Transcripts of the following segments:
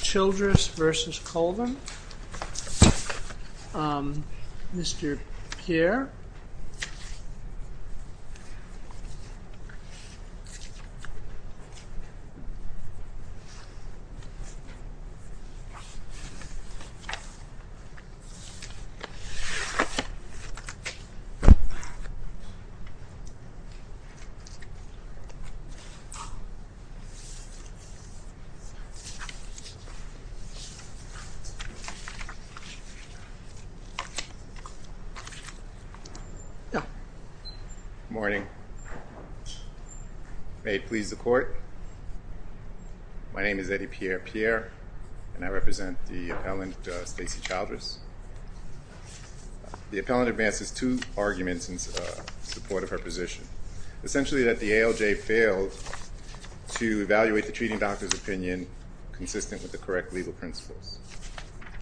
Childress v. Colvin Good morning. May it please the court, my name is Eddie Pierre-Pierre and I represent the appellant Stacey Childress. The appellant advances two arguments in support of her position. Essentially that the ALJ failed to evaluate the treating doctor's opinion consistent with the correct legal principles.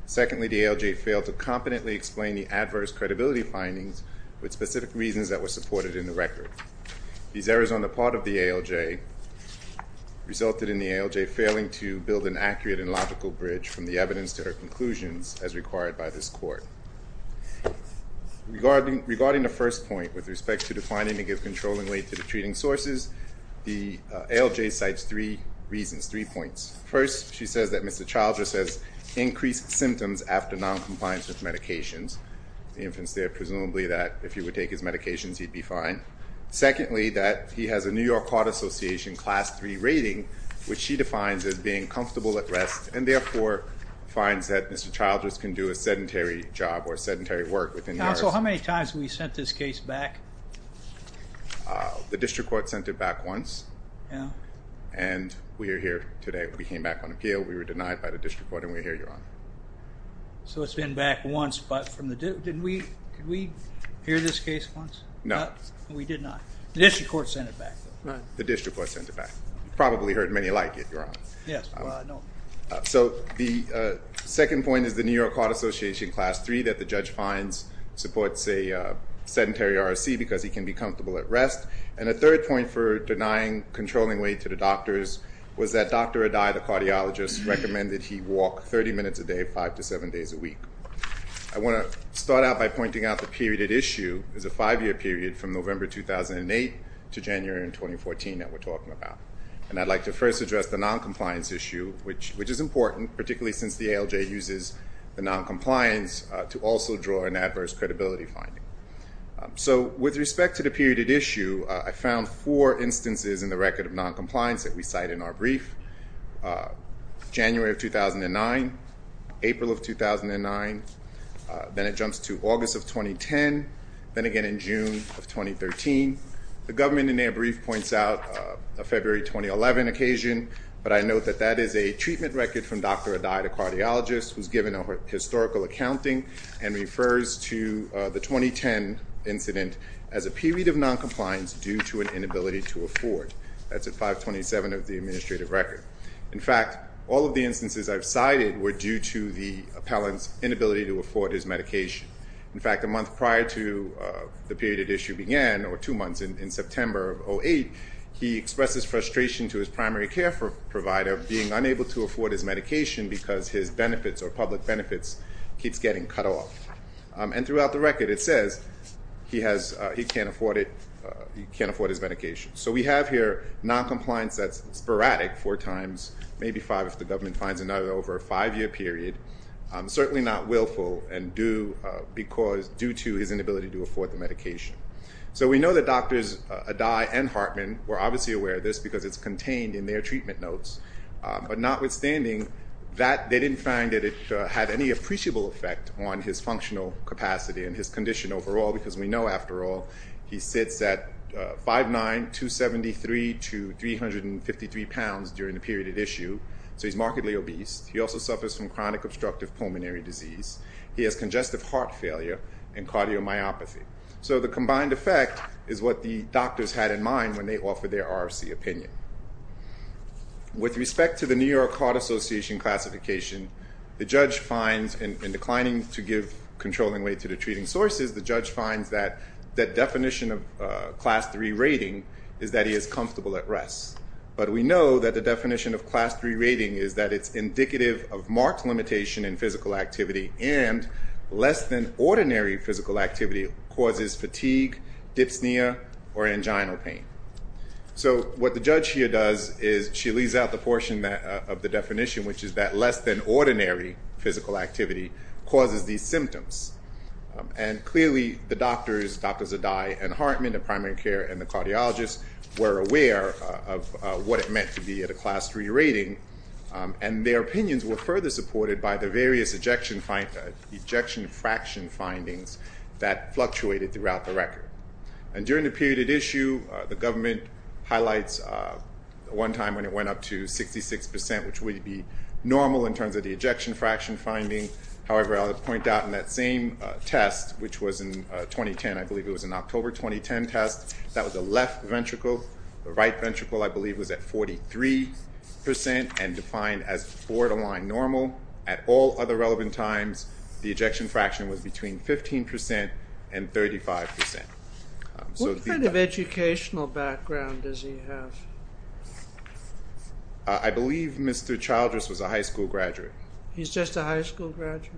Secondly, the ALJ failed to competently explain the adverse credibility findings with specific reasons that were supported in the record. These errors on the part of the ALJ resulted in the ALJ failing to build an accurate and logical bridge from the evidence to her conclusions as required by this court. Regarding the first point with respect to the finding to give controlling weight to the treating sources, the ALJ cites three reasons, three points. First, she says that Mr. Childress has increased symptoms after non-compliance with medications. The infant's there presumably that if he would take his medications he'd be fine. Secondly, that he has a New York Heart Association class 3 rating which she defines as being comfortable at rest and therefore finds that Mr. Childress can do a sedentary job or sedentary work within the arts. So how many times have we sent this case back? The district court sent it back once and we're here today. We came back on appeal. We were denied by the district court and we're here, Your Honor. So it's been back once but from the, did we hear this case once? No. We did not. The district court sent it back. The district court sent it back. You probably heard many like it, Your Honor. Yes. So the second point is the New York Heart Association class 3 that the judge finds supports a sedentary ROC because he can be comfortable at rest. And a third point for denying controlling weight to the doctors was that Dr. Adai, the cardiologist, recommended he walk 30 minutes a day, 5 to 7 days a week. I want to start out by pointing out the period at issue is a five-year period from November 2008 to January 2014 that we're talking about. And I'd like to first address the non-compliance issue, which is important, particularly since the ALJ uses the non-compliance to also draw an adverse credibility finding. So with respect to the period at issue, I found four instances in the record of non-compliance that we cite in our brief. January of 2009, April of 2009, then it jumps to August of 2010, then again in June of 2013. The government in their brief points out February 2011, occasionally occasion, but I note that that is a treatment record from Dr. Adai, the cardiologist, who's given a historical accounting and refers to the 2010 incident as a period of non-compliance due to an inability to afford. That's at 527 of the administrative record. In fact, all of the instances I've cited were due to the appellant's inability to afford his medication. In fact, a month prior to the period at issue began, or two months in September of 2008, he expresses frustration to his primary care provider, being unable to afford his medication because his benefits or public benefits keeps getting cut off. And throughout the record it says he can't afford his medication. So we have here non-compliance that's sporadic four times, maybe five if the government finds another over a five-year period, certainly not willful and due to his inability to afford the medication. So we know that Drs. Adai and Hartman were obviously aware of this because it's contained in their treatment notes, but notwithstanding that they didn't find that it had any appreciable effect on his functional capacity and his condition overall because we know, after all, he sits at 5'9", 273 to 353 pounds during the period at issue, so he's markedly obese. He also suffers from chronic obstructive pulmonary disease. He has congestive heart failure and cardiomyopathy. So the combined effect is what the doctors had in mind when they offered their RFC opinion. With respect to the New York Heart Association classification, the judge finds, in declining to give controlling weight to the treating sources, the judge finds that that definition of class 3 rating is that he is comfortable at rest. But we know that the definition of class 3 rating is that it's indicative of marked limitation in physical activity and less than ordinary physical activity causes fatigue, dyspnea, or angina pain. So what the judge here does is she leaves out the portion of the definition, which is that less than ordinary physical activity causes these symptoms. And clearly the doctors, Drs. Adai and Hartman, the primary care and the cardiologists, were aware of what it meant to be at a class 3 rating, and their opinions were further supported by the various ejection fraction findings that fluctuated throughout the record. And during the period at issue, the government highlights one time when it went up to 66%, which would be normal in terms of the ejection fraction finding. However, I'll point out in that same test, which was in 2010, I believe it was an October 2010 test, that was a left ventricle, I believe, was at 43% and defined as borderline normal. At all other relevant times, the ejection fraction was between 15% and 35%. What kind of educational background does he have? I believe Mr. Childress was a high school graduate. He's just a high school graduate?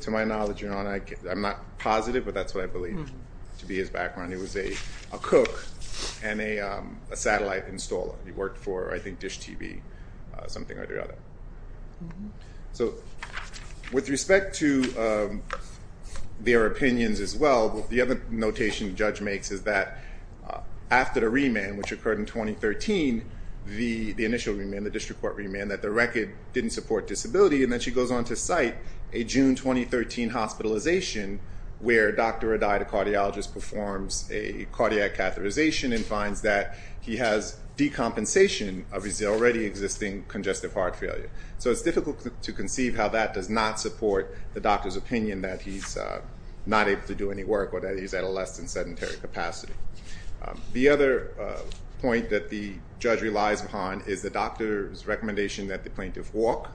To my knowledge, Your Honor, I'm not positive, but that's what I believe to be his background. He was a cook and a satellite installer. He worked for, I think, Dish TV, something or the other. So with respect to their opinions as well, the other notation the judge makes is that after the remand, which occurred in 2013, the initial remand, the district court remand, that the record didn't support disability, and then she goes on to cite a June 2013 hospitalization where Dr. Adai, the cardiologist, performs a cardiac catheterization and finds that he has decompensation of his already existing congestive heart failure. So it's difficult to conceive how that does not support the doctor's opinion that he's not able to do any work or that he's at a less than sedentary capacity. The other point that the judge relies upon is the doctor's recommendation that the plaintiff walk.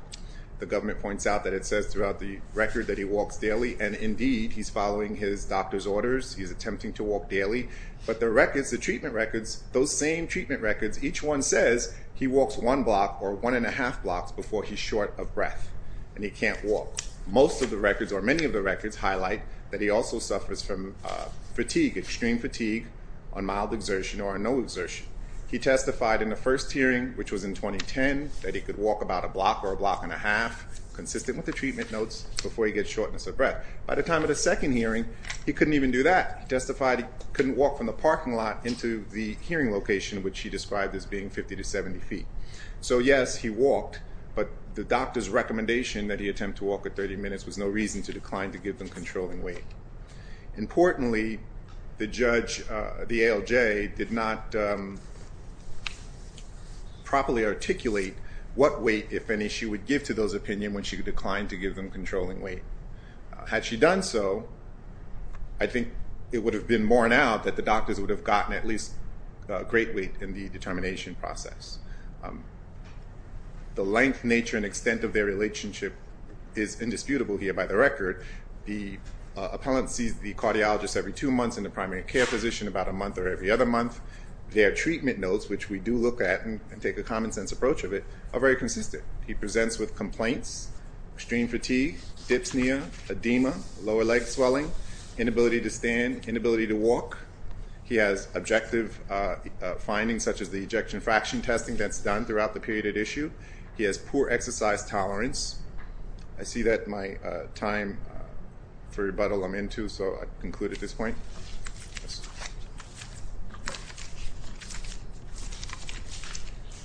The government points out that it says throughout the record that he walks daily, and indeed he's following his doctor's orders. He's attempting to walk daily. But the records, the treatment records, those same treatment records, each one says he walks one block or one and a half blocks before he's short of breath and he can't walk. Most of the records or many of the records highlight that he also suffers from fatigue, extreme fatigue, on mild exertion or on no exertion. He testified in the first hearing, which was in 2010, that he could walk about a block or a block and a half, consistent with the treatment notes, before he gets shortness of breath. By the time of the second hearing, he couldn't even do that. He testified he couldn't walk from the parking lot into the hearing location, which he described as being 50 to 70 feet. So yes, he walked, but the doctor's recommendation that he attempt to walk for 30 minutes was no reason to decline to give them controlling weight. Importantly, the judge, the ALJ, did not properly articulate what weight, if any, she would give to those opinions when she declined to give them controlling weight. Had she done so, I think it would have been borne out that the doctors would have gotten at least great weight in the determination process. The length, nature, and extent of their relationship is consistent. The patient sees the cardiologist every two months and the primary care physician about a month or every other month. Their treatment notes, which we do look at and take a common sense approach of it, are very consistent. He presents with complaints, extreme fatigue, dyspnea, edema, lower leg swelling, inability to stand, inability to walk. He has objective findings, such as the ejection fraction testing that's done throughout the period at issue. He has poor exercise tolerance. I see that my time for rebuttal, I'm into, so I'll conclude at this point.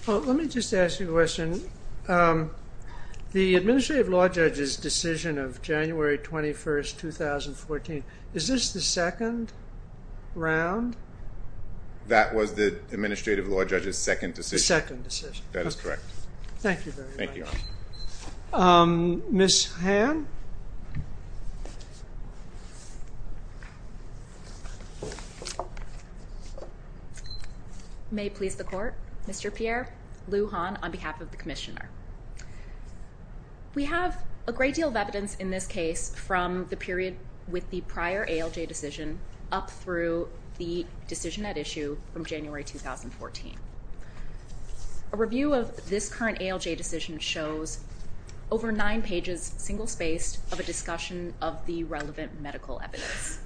Let me just ask you a question. The Administrative Law Judge's decision of January 21, 2014, is this the second round? That was the Administrative Law Judge's second decision. The second decision. That is correct. Thank you very much. Thank you. Ms. Han? May it please the Court, Mr. Pierre, Lou Han on behalf of the Commissioner. We have a great deal of evidence in this case from the period with the prior ALJ decision up through the review of this current ALJ decision shows over nine pages, single spaced, of a discussion of the relevant medical evidence.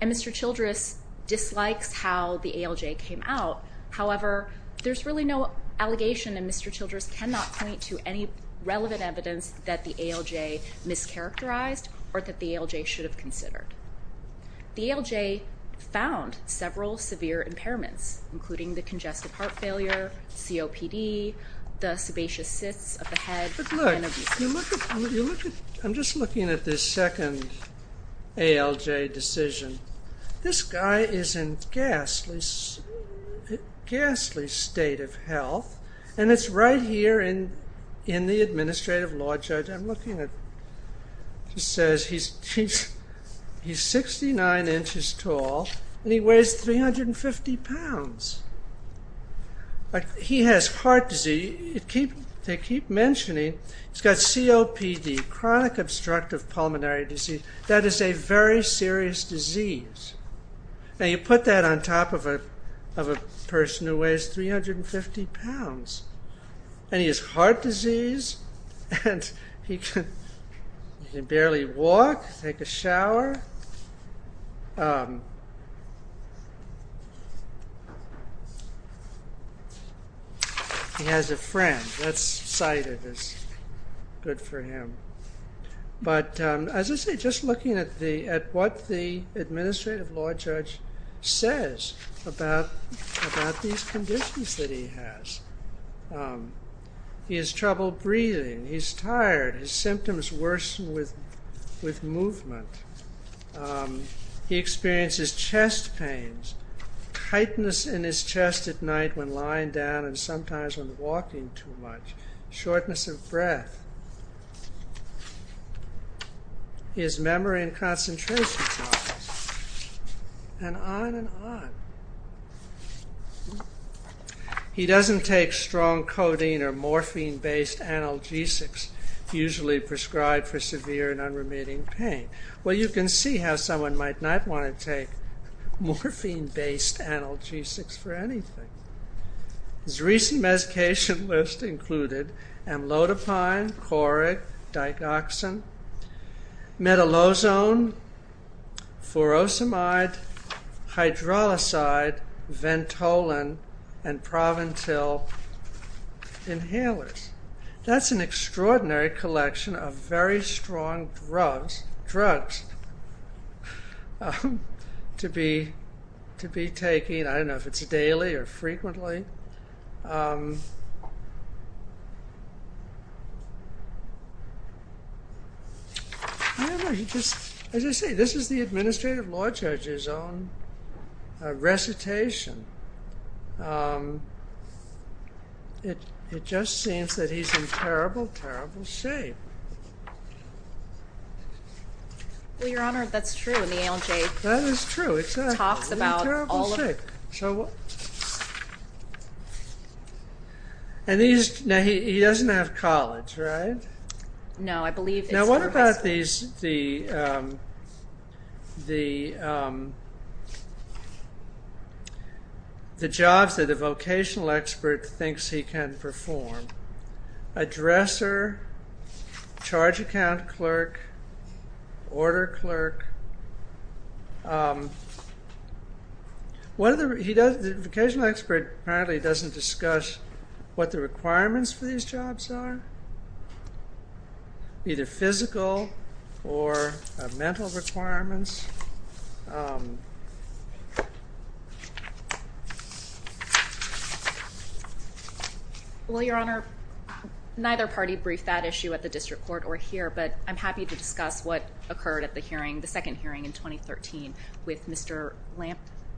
And Mr. Childress dislikes how the ALJ came out. However, there's really no allegation and Mr. Childress cannot point to any relevant evidence that the ALJ mischaracterized or that the ALJ should have considered. The ALJ found several severe impairments including the congestive heart failure, COPD, the sebaceous cysts of the head, and of the spine. I'm just looking at this second ALJ decision. This guy is in a ghastly state of health and it's right here in the Administrative Law Judge. I'm looking at, it says he's 69 inches tall and he weighs 350 pounds. He has heart disease. They keep mentioning he's got COPD, chronic obstructive pulmonary disease. That is a very serious disease. And you put that on top of a person who weighs 350 pounds and he has heart disease and he can barely walk, take a shower. He has a friend, that's cited as good for him. But as I say, just looking at what the Administrative Law Judge says about these conditions that he has. He has trouble breathing. He's tired. His symptoms worsen with movement. He experiences chest pains, tightness in his chest at night when lying down and sometimes when walking too much. Shortness of breath. He has memory and concentration problems. And on and on. He doesn't take strong codeine or morphine-based analgesics, usually prescribed for severe and unremitting pain. Well, you can see how someone might not want to take morphine-based analgesics for anything. His recent medication list included amlodipine, Coric, digoxin, metalozone, furosemide, hydrolyside, ventolin, and proventil inhalers. That's an extraordinary collection of very strong drugs to be taking. I don't know if it's daily or frequently. This is the Administrative Law Judge's own recitation. It just seems that he's in terrible, terrible shape. Well, Your Honor, that's true. And the ALJ talks about all of it. And he doesn't have college, right? No, I believe. Now, what about the jobs that a vocational expert thinks he can perform? Addressor, charge account clerk, order clerk. The vocational expert apparently doesn't discuss what the requirements for these jobs are, either physical or mental requirements. Well, Your Honor, neither party briefed that issue at the district court or here, but I'm happy to discuss what occurred at the hearing, the second hearing in 2013 with Mr.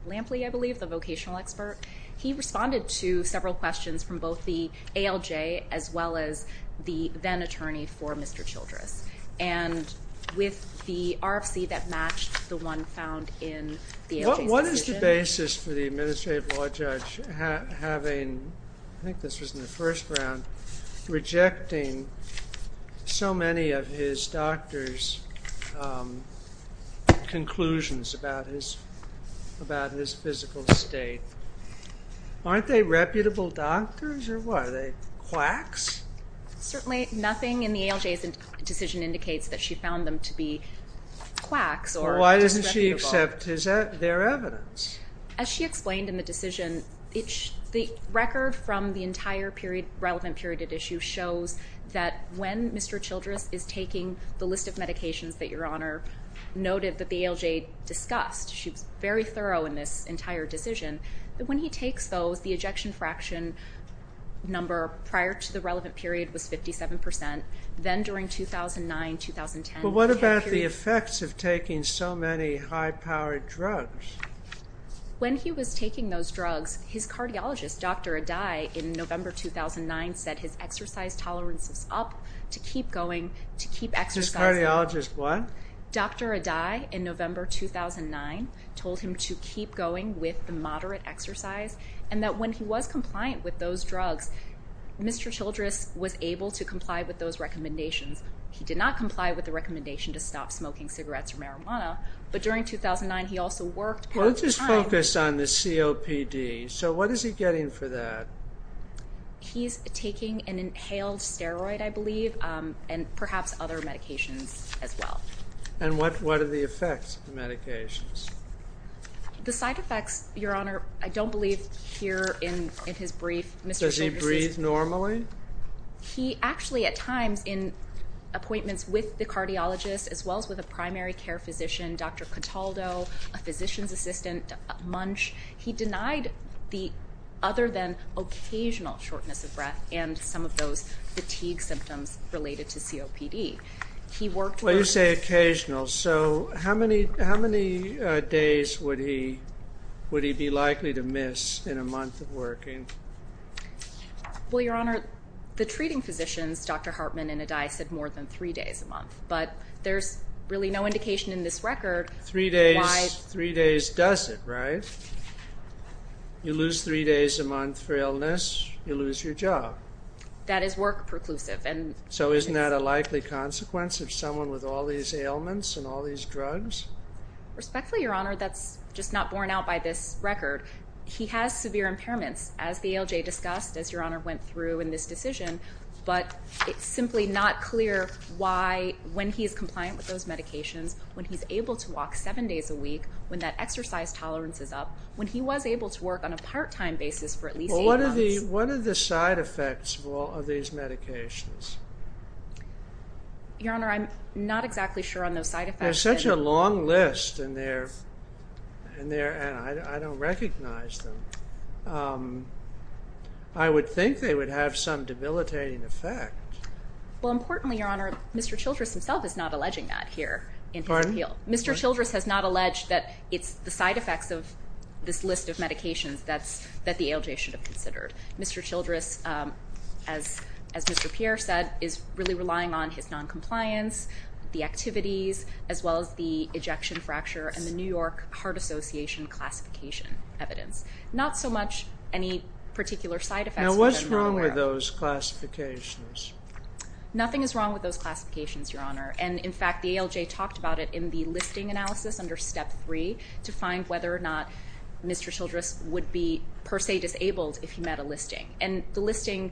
Lampley, I believe, the vocational expert. He responded to several questions from both the ALJ as well as the then-attorney for Mr. Childress. And with the RFC that matched the one found in the ALJ's citation. What is the basis for the Administrative Law Judge having, I think this was in the first round, rejecting so many of his doctor's conclusions about his physical state? Aren't they reputable doctors or what? Are they quacks? Certainly nothing in the ALJ's decision indicates that she found them to be quacks or disreputable. Why doesn't she accept their evidence? As she explained in the decision, the record from the entire relevant period of the issue shows that when Mr. Childress is taking the list of medications that Your Honor noted that the ALJ discussed, she was very thorough in this entire decision, that when he takes those, the ejection fraction number prior to the relevant period was 57%. Then during 2009-2010. But what about the effects of taking so many high-powered drugs? When he was taking those drugs, his cardiologist, Dr. Adai, in November 2009, told him to keep going with the moderate exercise, and that when he was compliant with those drugs, Mr. Childress was able to comply with those recommendations. He did not comply with the recommendation to stop smoking cigarettes or marijuana, but during 2009 he also worked part-time. Let's just focus on the COPD. So what is he getting for that? He's taking an inhaled steroid, I believe, and perhaps other medications as well. And what are the effects of the medications? The side effects, Your Honor, I don't believe here in his brief. Does he breathe normally? He actually, at times, in appointments with the cardiologist, as well as with a primary care physician, Dr. Contaldo, a physician's assistant, Munch, he denied the other-than-occasional shortness of breath and some of those fatigue symptoms related to COPD. Well, you say occasional. So how many days would he be likely to miss in a month of working? Well, Your Honor, the treating physicians, Dr. Hartman and Adai, said more than three days a month. But there's really no indication in this record why... Well, it doesn't, right? You lose three days a month for illness, you lose your job. That is work-preclusive. So isn't that a likely consequence of someone with all these ailments and all these drugs? Respectfully, Your Honor, that's just not borne out by this record. He has severe impairments, as the ALJ discussed, as Your Honor went through in this decision, but it's simply not clear why, when he's compliant with those medications, when he's able to raise tolerances up, when he was able to work on a part-time basis for at least eight months... Well, what are the side effects of all of these medications? Your Honor, I'm not exactly sure on those side effects. There's such a long list, and I don't recognize them. I would think they would have some debilitating effect. Well, importantly, Your Honor, Mr. Childress himself is not alleging that here in his appeal. Pardon? Mr. Childress has not alleged that it's the side effects of this list of medications that the ALJ should have considered. Mr. Childress, as Mr. Pierre said, is really relying on his noncompliance, the activities, as well as the ejection fracture and the New York Heart Association classification evidence. Not so much any particular side effects... Now, what's wrong with those classifications? Nothing is wrong with those classifications, Your Honor, and in fact, the ALJ talked about it in the listing analysis under Step 3 to find whether or not Mr. Childress would be per se disabled if he met a listing. And the listing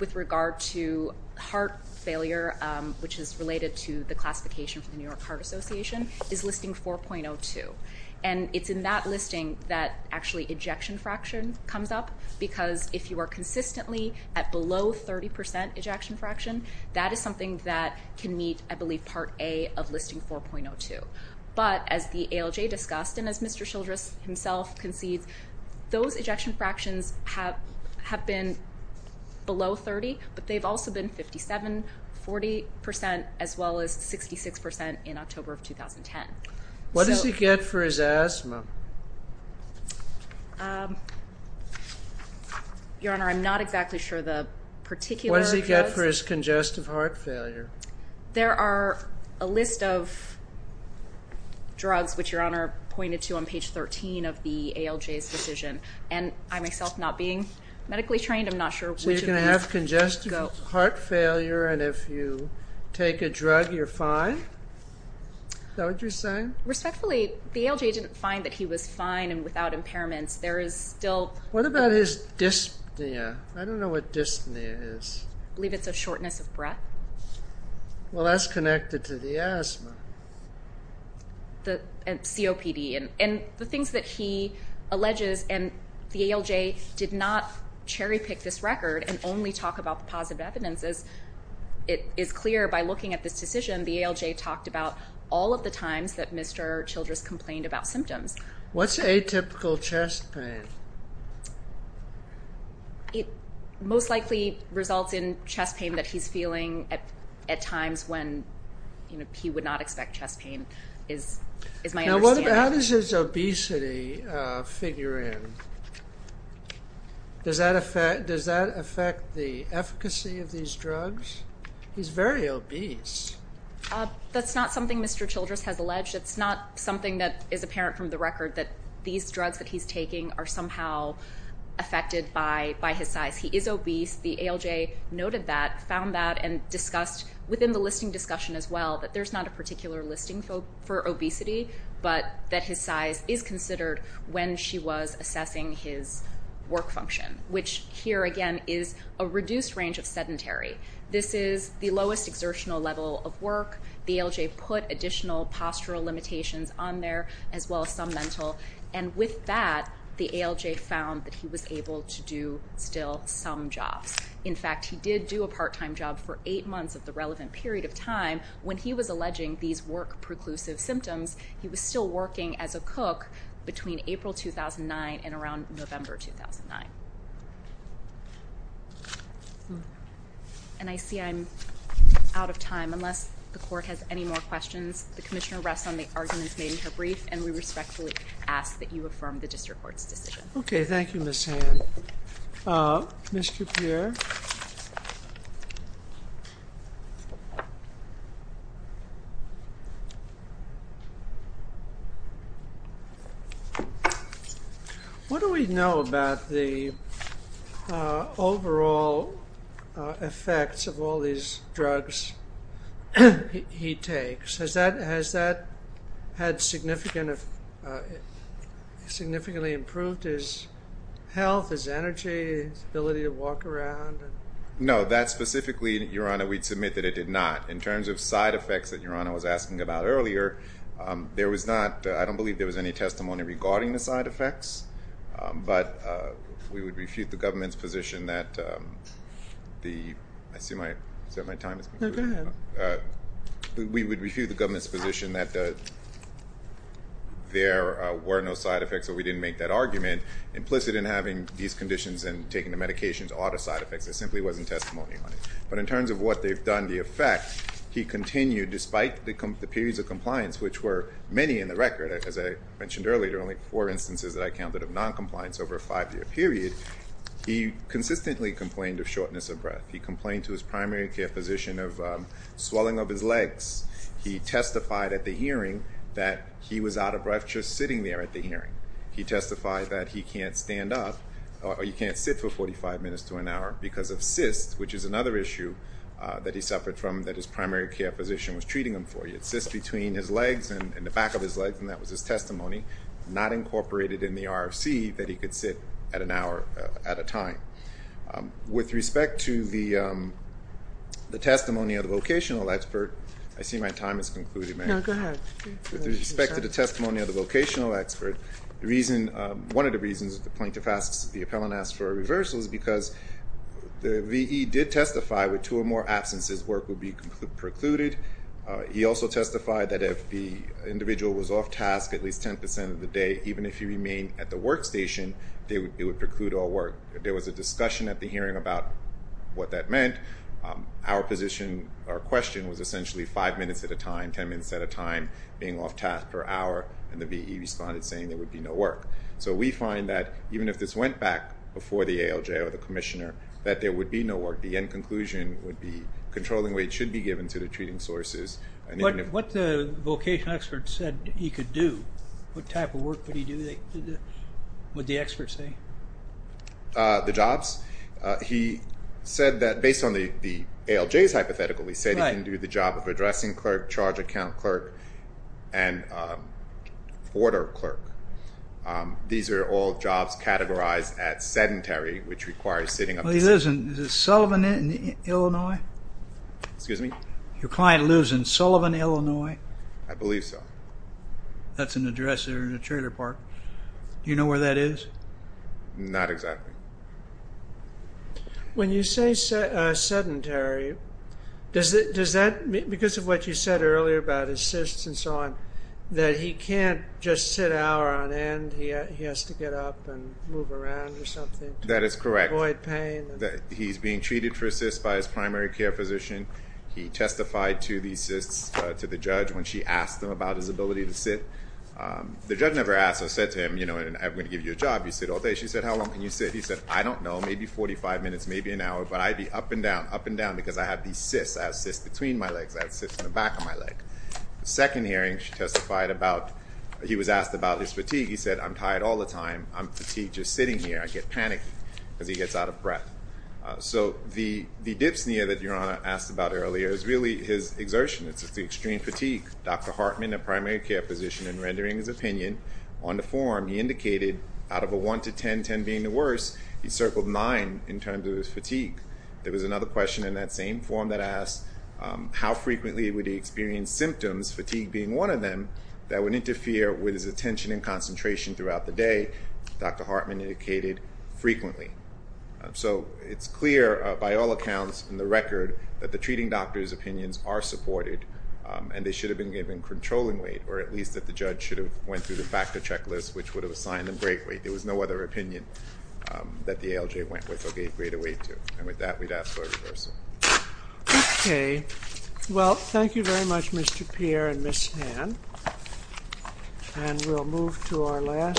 with regard to heart failure, which is related to the classification from the New York Heart Association, is Listing 4.02. And it's in that listing that actually ejection fraction comes up, because if you are consistently at below 30% ejection fraction, that is something that can meet, I believe, Part A of Listing 4.02. But as the ALJ discussed, and as Mr. Childress himself concedes, those ejection fractions have been below 30, but they've also been 57, 40%, as well as 66% in October of 2010. What does he get for his asthma? Your Honor, I'm not exactly sure the particular... What does he get for his congestive heart failure? There are a list of drugs, which Your Honor pointed to on page 13 of the ALJ's decision. And I myself, not being medically trained, I'm not sure which of those go... So you're going to have congestive heart failure, and if you take a drug, you're fine? Is that what you're saying? Respectfully, the ALJ didn't find that he was fine and without impairments. There is still... What about his dyspnea? I don't know what Well, that's connected to the asthma. The COPD. And the things that he alleges, and the ALJ did not cherry-pick this record and only talk about the positive evidence, as it is clear by looking at this decision, the ALJ talked about all of the times that Mr. Childress complained about symptoms. What's atypical chest pain? It most likely results in chest pain that he's feeling at times when he would not expect chest pain, is my understanding. How does his obesity figure in? Does that affect the efficacy of these drugs? He's very obese. That's not something Mr. Childress has alleged. It's not something that is apparent from the record that he's somehow affected by his size. He is obese. The ALJ noted that, found that, and discussed within the listing discussion as well that there's not a particular listing for obesity, but that his size is considered when she was assessing his work function, which here again is a reduced range of sedentary. This is the lowest exertional level of work. The ALJ put additional postural limitations on there, as well as some mental. And with that, the ALJ found that he was able to do still some jobs. In fact, he did do a part-time job for eight months of the relevant period of time. When he was alleging these work-preclusive symptoms, he was still working as a cook between April 2009 and around November 2009. And I see I'm out of time. Unless the Court has any more questions, the Commissioner rests on the arguments made in her brief, and we respectfully ask that you affirm the District Court's decision. Okay. Thank you, Ms. Hand. Ms. Kupier? What do we know about the overall effects of all these drugs he takes? Has that been had significant, significantly improved his health, his energy, his ability to walk around? No, that specifically, Your Honor, we'd submit that it did not. In terms of side effects that Your Honor was asking about earlier, there was not, I don't believe there was any testimony regarding the side effects, but we would refute the government's position that the, I see my, is that my time is concluding? No, go ahead. We would refute the government's position that the, there were no side effects, so we didn't make that argument, implicit in having these conditions and taking the medications are the side effects. There simply wasn't testimony on it. But in terms of what they've done, the effect, he continued, despite the periods of compliance, which were many in the record, as I mentioned earlier, only four instances that I counted of noncompliance over a five-year period, he consistently complained of shortness of breath. He complained to his primary care physician of swelling of his legs. He testified at the hearing that he was out of breath just sitting there at the hearing. He testified that he can't stand up, or he can't sit for 45 minutes to an hour because of cysts, which is another issue that he suffered from, that his primary care physician was treating him for. He had cysts between his legs and the back of his legs, and that was his testimony, not incorporated in the RFC that he could sit at an hour at a time. With respect to the testimony of the vocational expert, I see my time has concluded. No, go ahead. With respect to the testimony of the vocational expert, one of the reasons that the plaintiff asked, the appellant asked for a reversal is because the V.E. did testify with two or more absences, work would be precluded. He also testified that if the individual was off task at least 10% of the day, even if he remained at the workstation, it would preclude all work. There was a discussion at the hearing about what that meant. Our position, our question was essentially five minutes at a time, 10 minutes at a time, being off task per hour, and the V.E. responded saying there would be no work. So we find that even if this went back before the ALJ or the commissioner, that there would be no work. The end conclusion would be controlling weight should be given to the treating sources. What the vocational expert said he could do, what type of work would he do, would the expert say? The jobs. He said that based on the ALJ's hypothetical, he said he could do the job of addressing clerk, charge account clerk, and order clerk. These are all jobs categorized at sedentary, which requires sitting up to six hours. Well, he lives in Sullivan, Illinois? Excuse me? Your client lives in Sullivan, Illinois? I believe so. That's an address there in the trailer park. Do you know where that is? Not exactly. When you say sedentary, does that, because of what you said earlier about his cysts and so on, that he can't just sit hour on end? He has to get up and move around or something? That is correct. Avoid pain? He's being treated for cysts by his primary care physician. He testified to the cysts to the judge when she asked him about his ability to sit. The judge never asked or said to him, you know, I'm going to give you a job, you sit all day. She said, how long can you sit? He said, I don't know, maybe 45 minutes, maybe an hour, but I'd be up and down, up and down, because I have these cysts. I have cysts between my legs. I have cysts in the back of my leg. The second hearing, she testified about, he was asked about his fatigue. He said, I'm tired all the time. I'm fatigued just sitting here. I get panicky because he gets out of breath. So the dip sneer that Your Honor asked about earlier is really his exertion. It's the extreme fatigue. Dr. Hartman, a primary care physician, in rendering his opinion on the form, he indicated out of a 1 to 10, 10 being the worst, he circled 9 in terms of his fatigue. There was another question in that same form that asked how frequently would he experience symptoms, fatigue being one of them, that would interfere with his attention and concentration throughout the day. Dr. Hartman indicated frequently. So it's clear by all accounts in the record that the treating doctor's opinions are supported and they should have been given controlling weight, or at least that the judge should have went through the factor checklist, which would have assigned them break weight. There was no other opinion that the ALJ went with or gave greater weight to. And with that, we'd ask for a reversal. Okay. Well, thank you very much, Mr. Pierre and Ms. Han. And we'll move to our last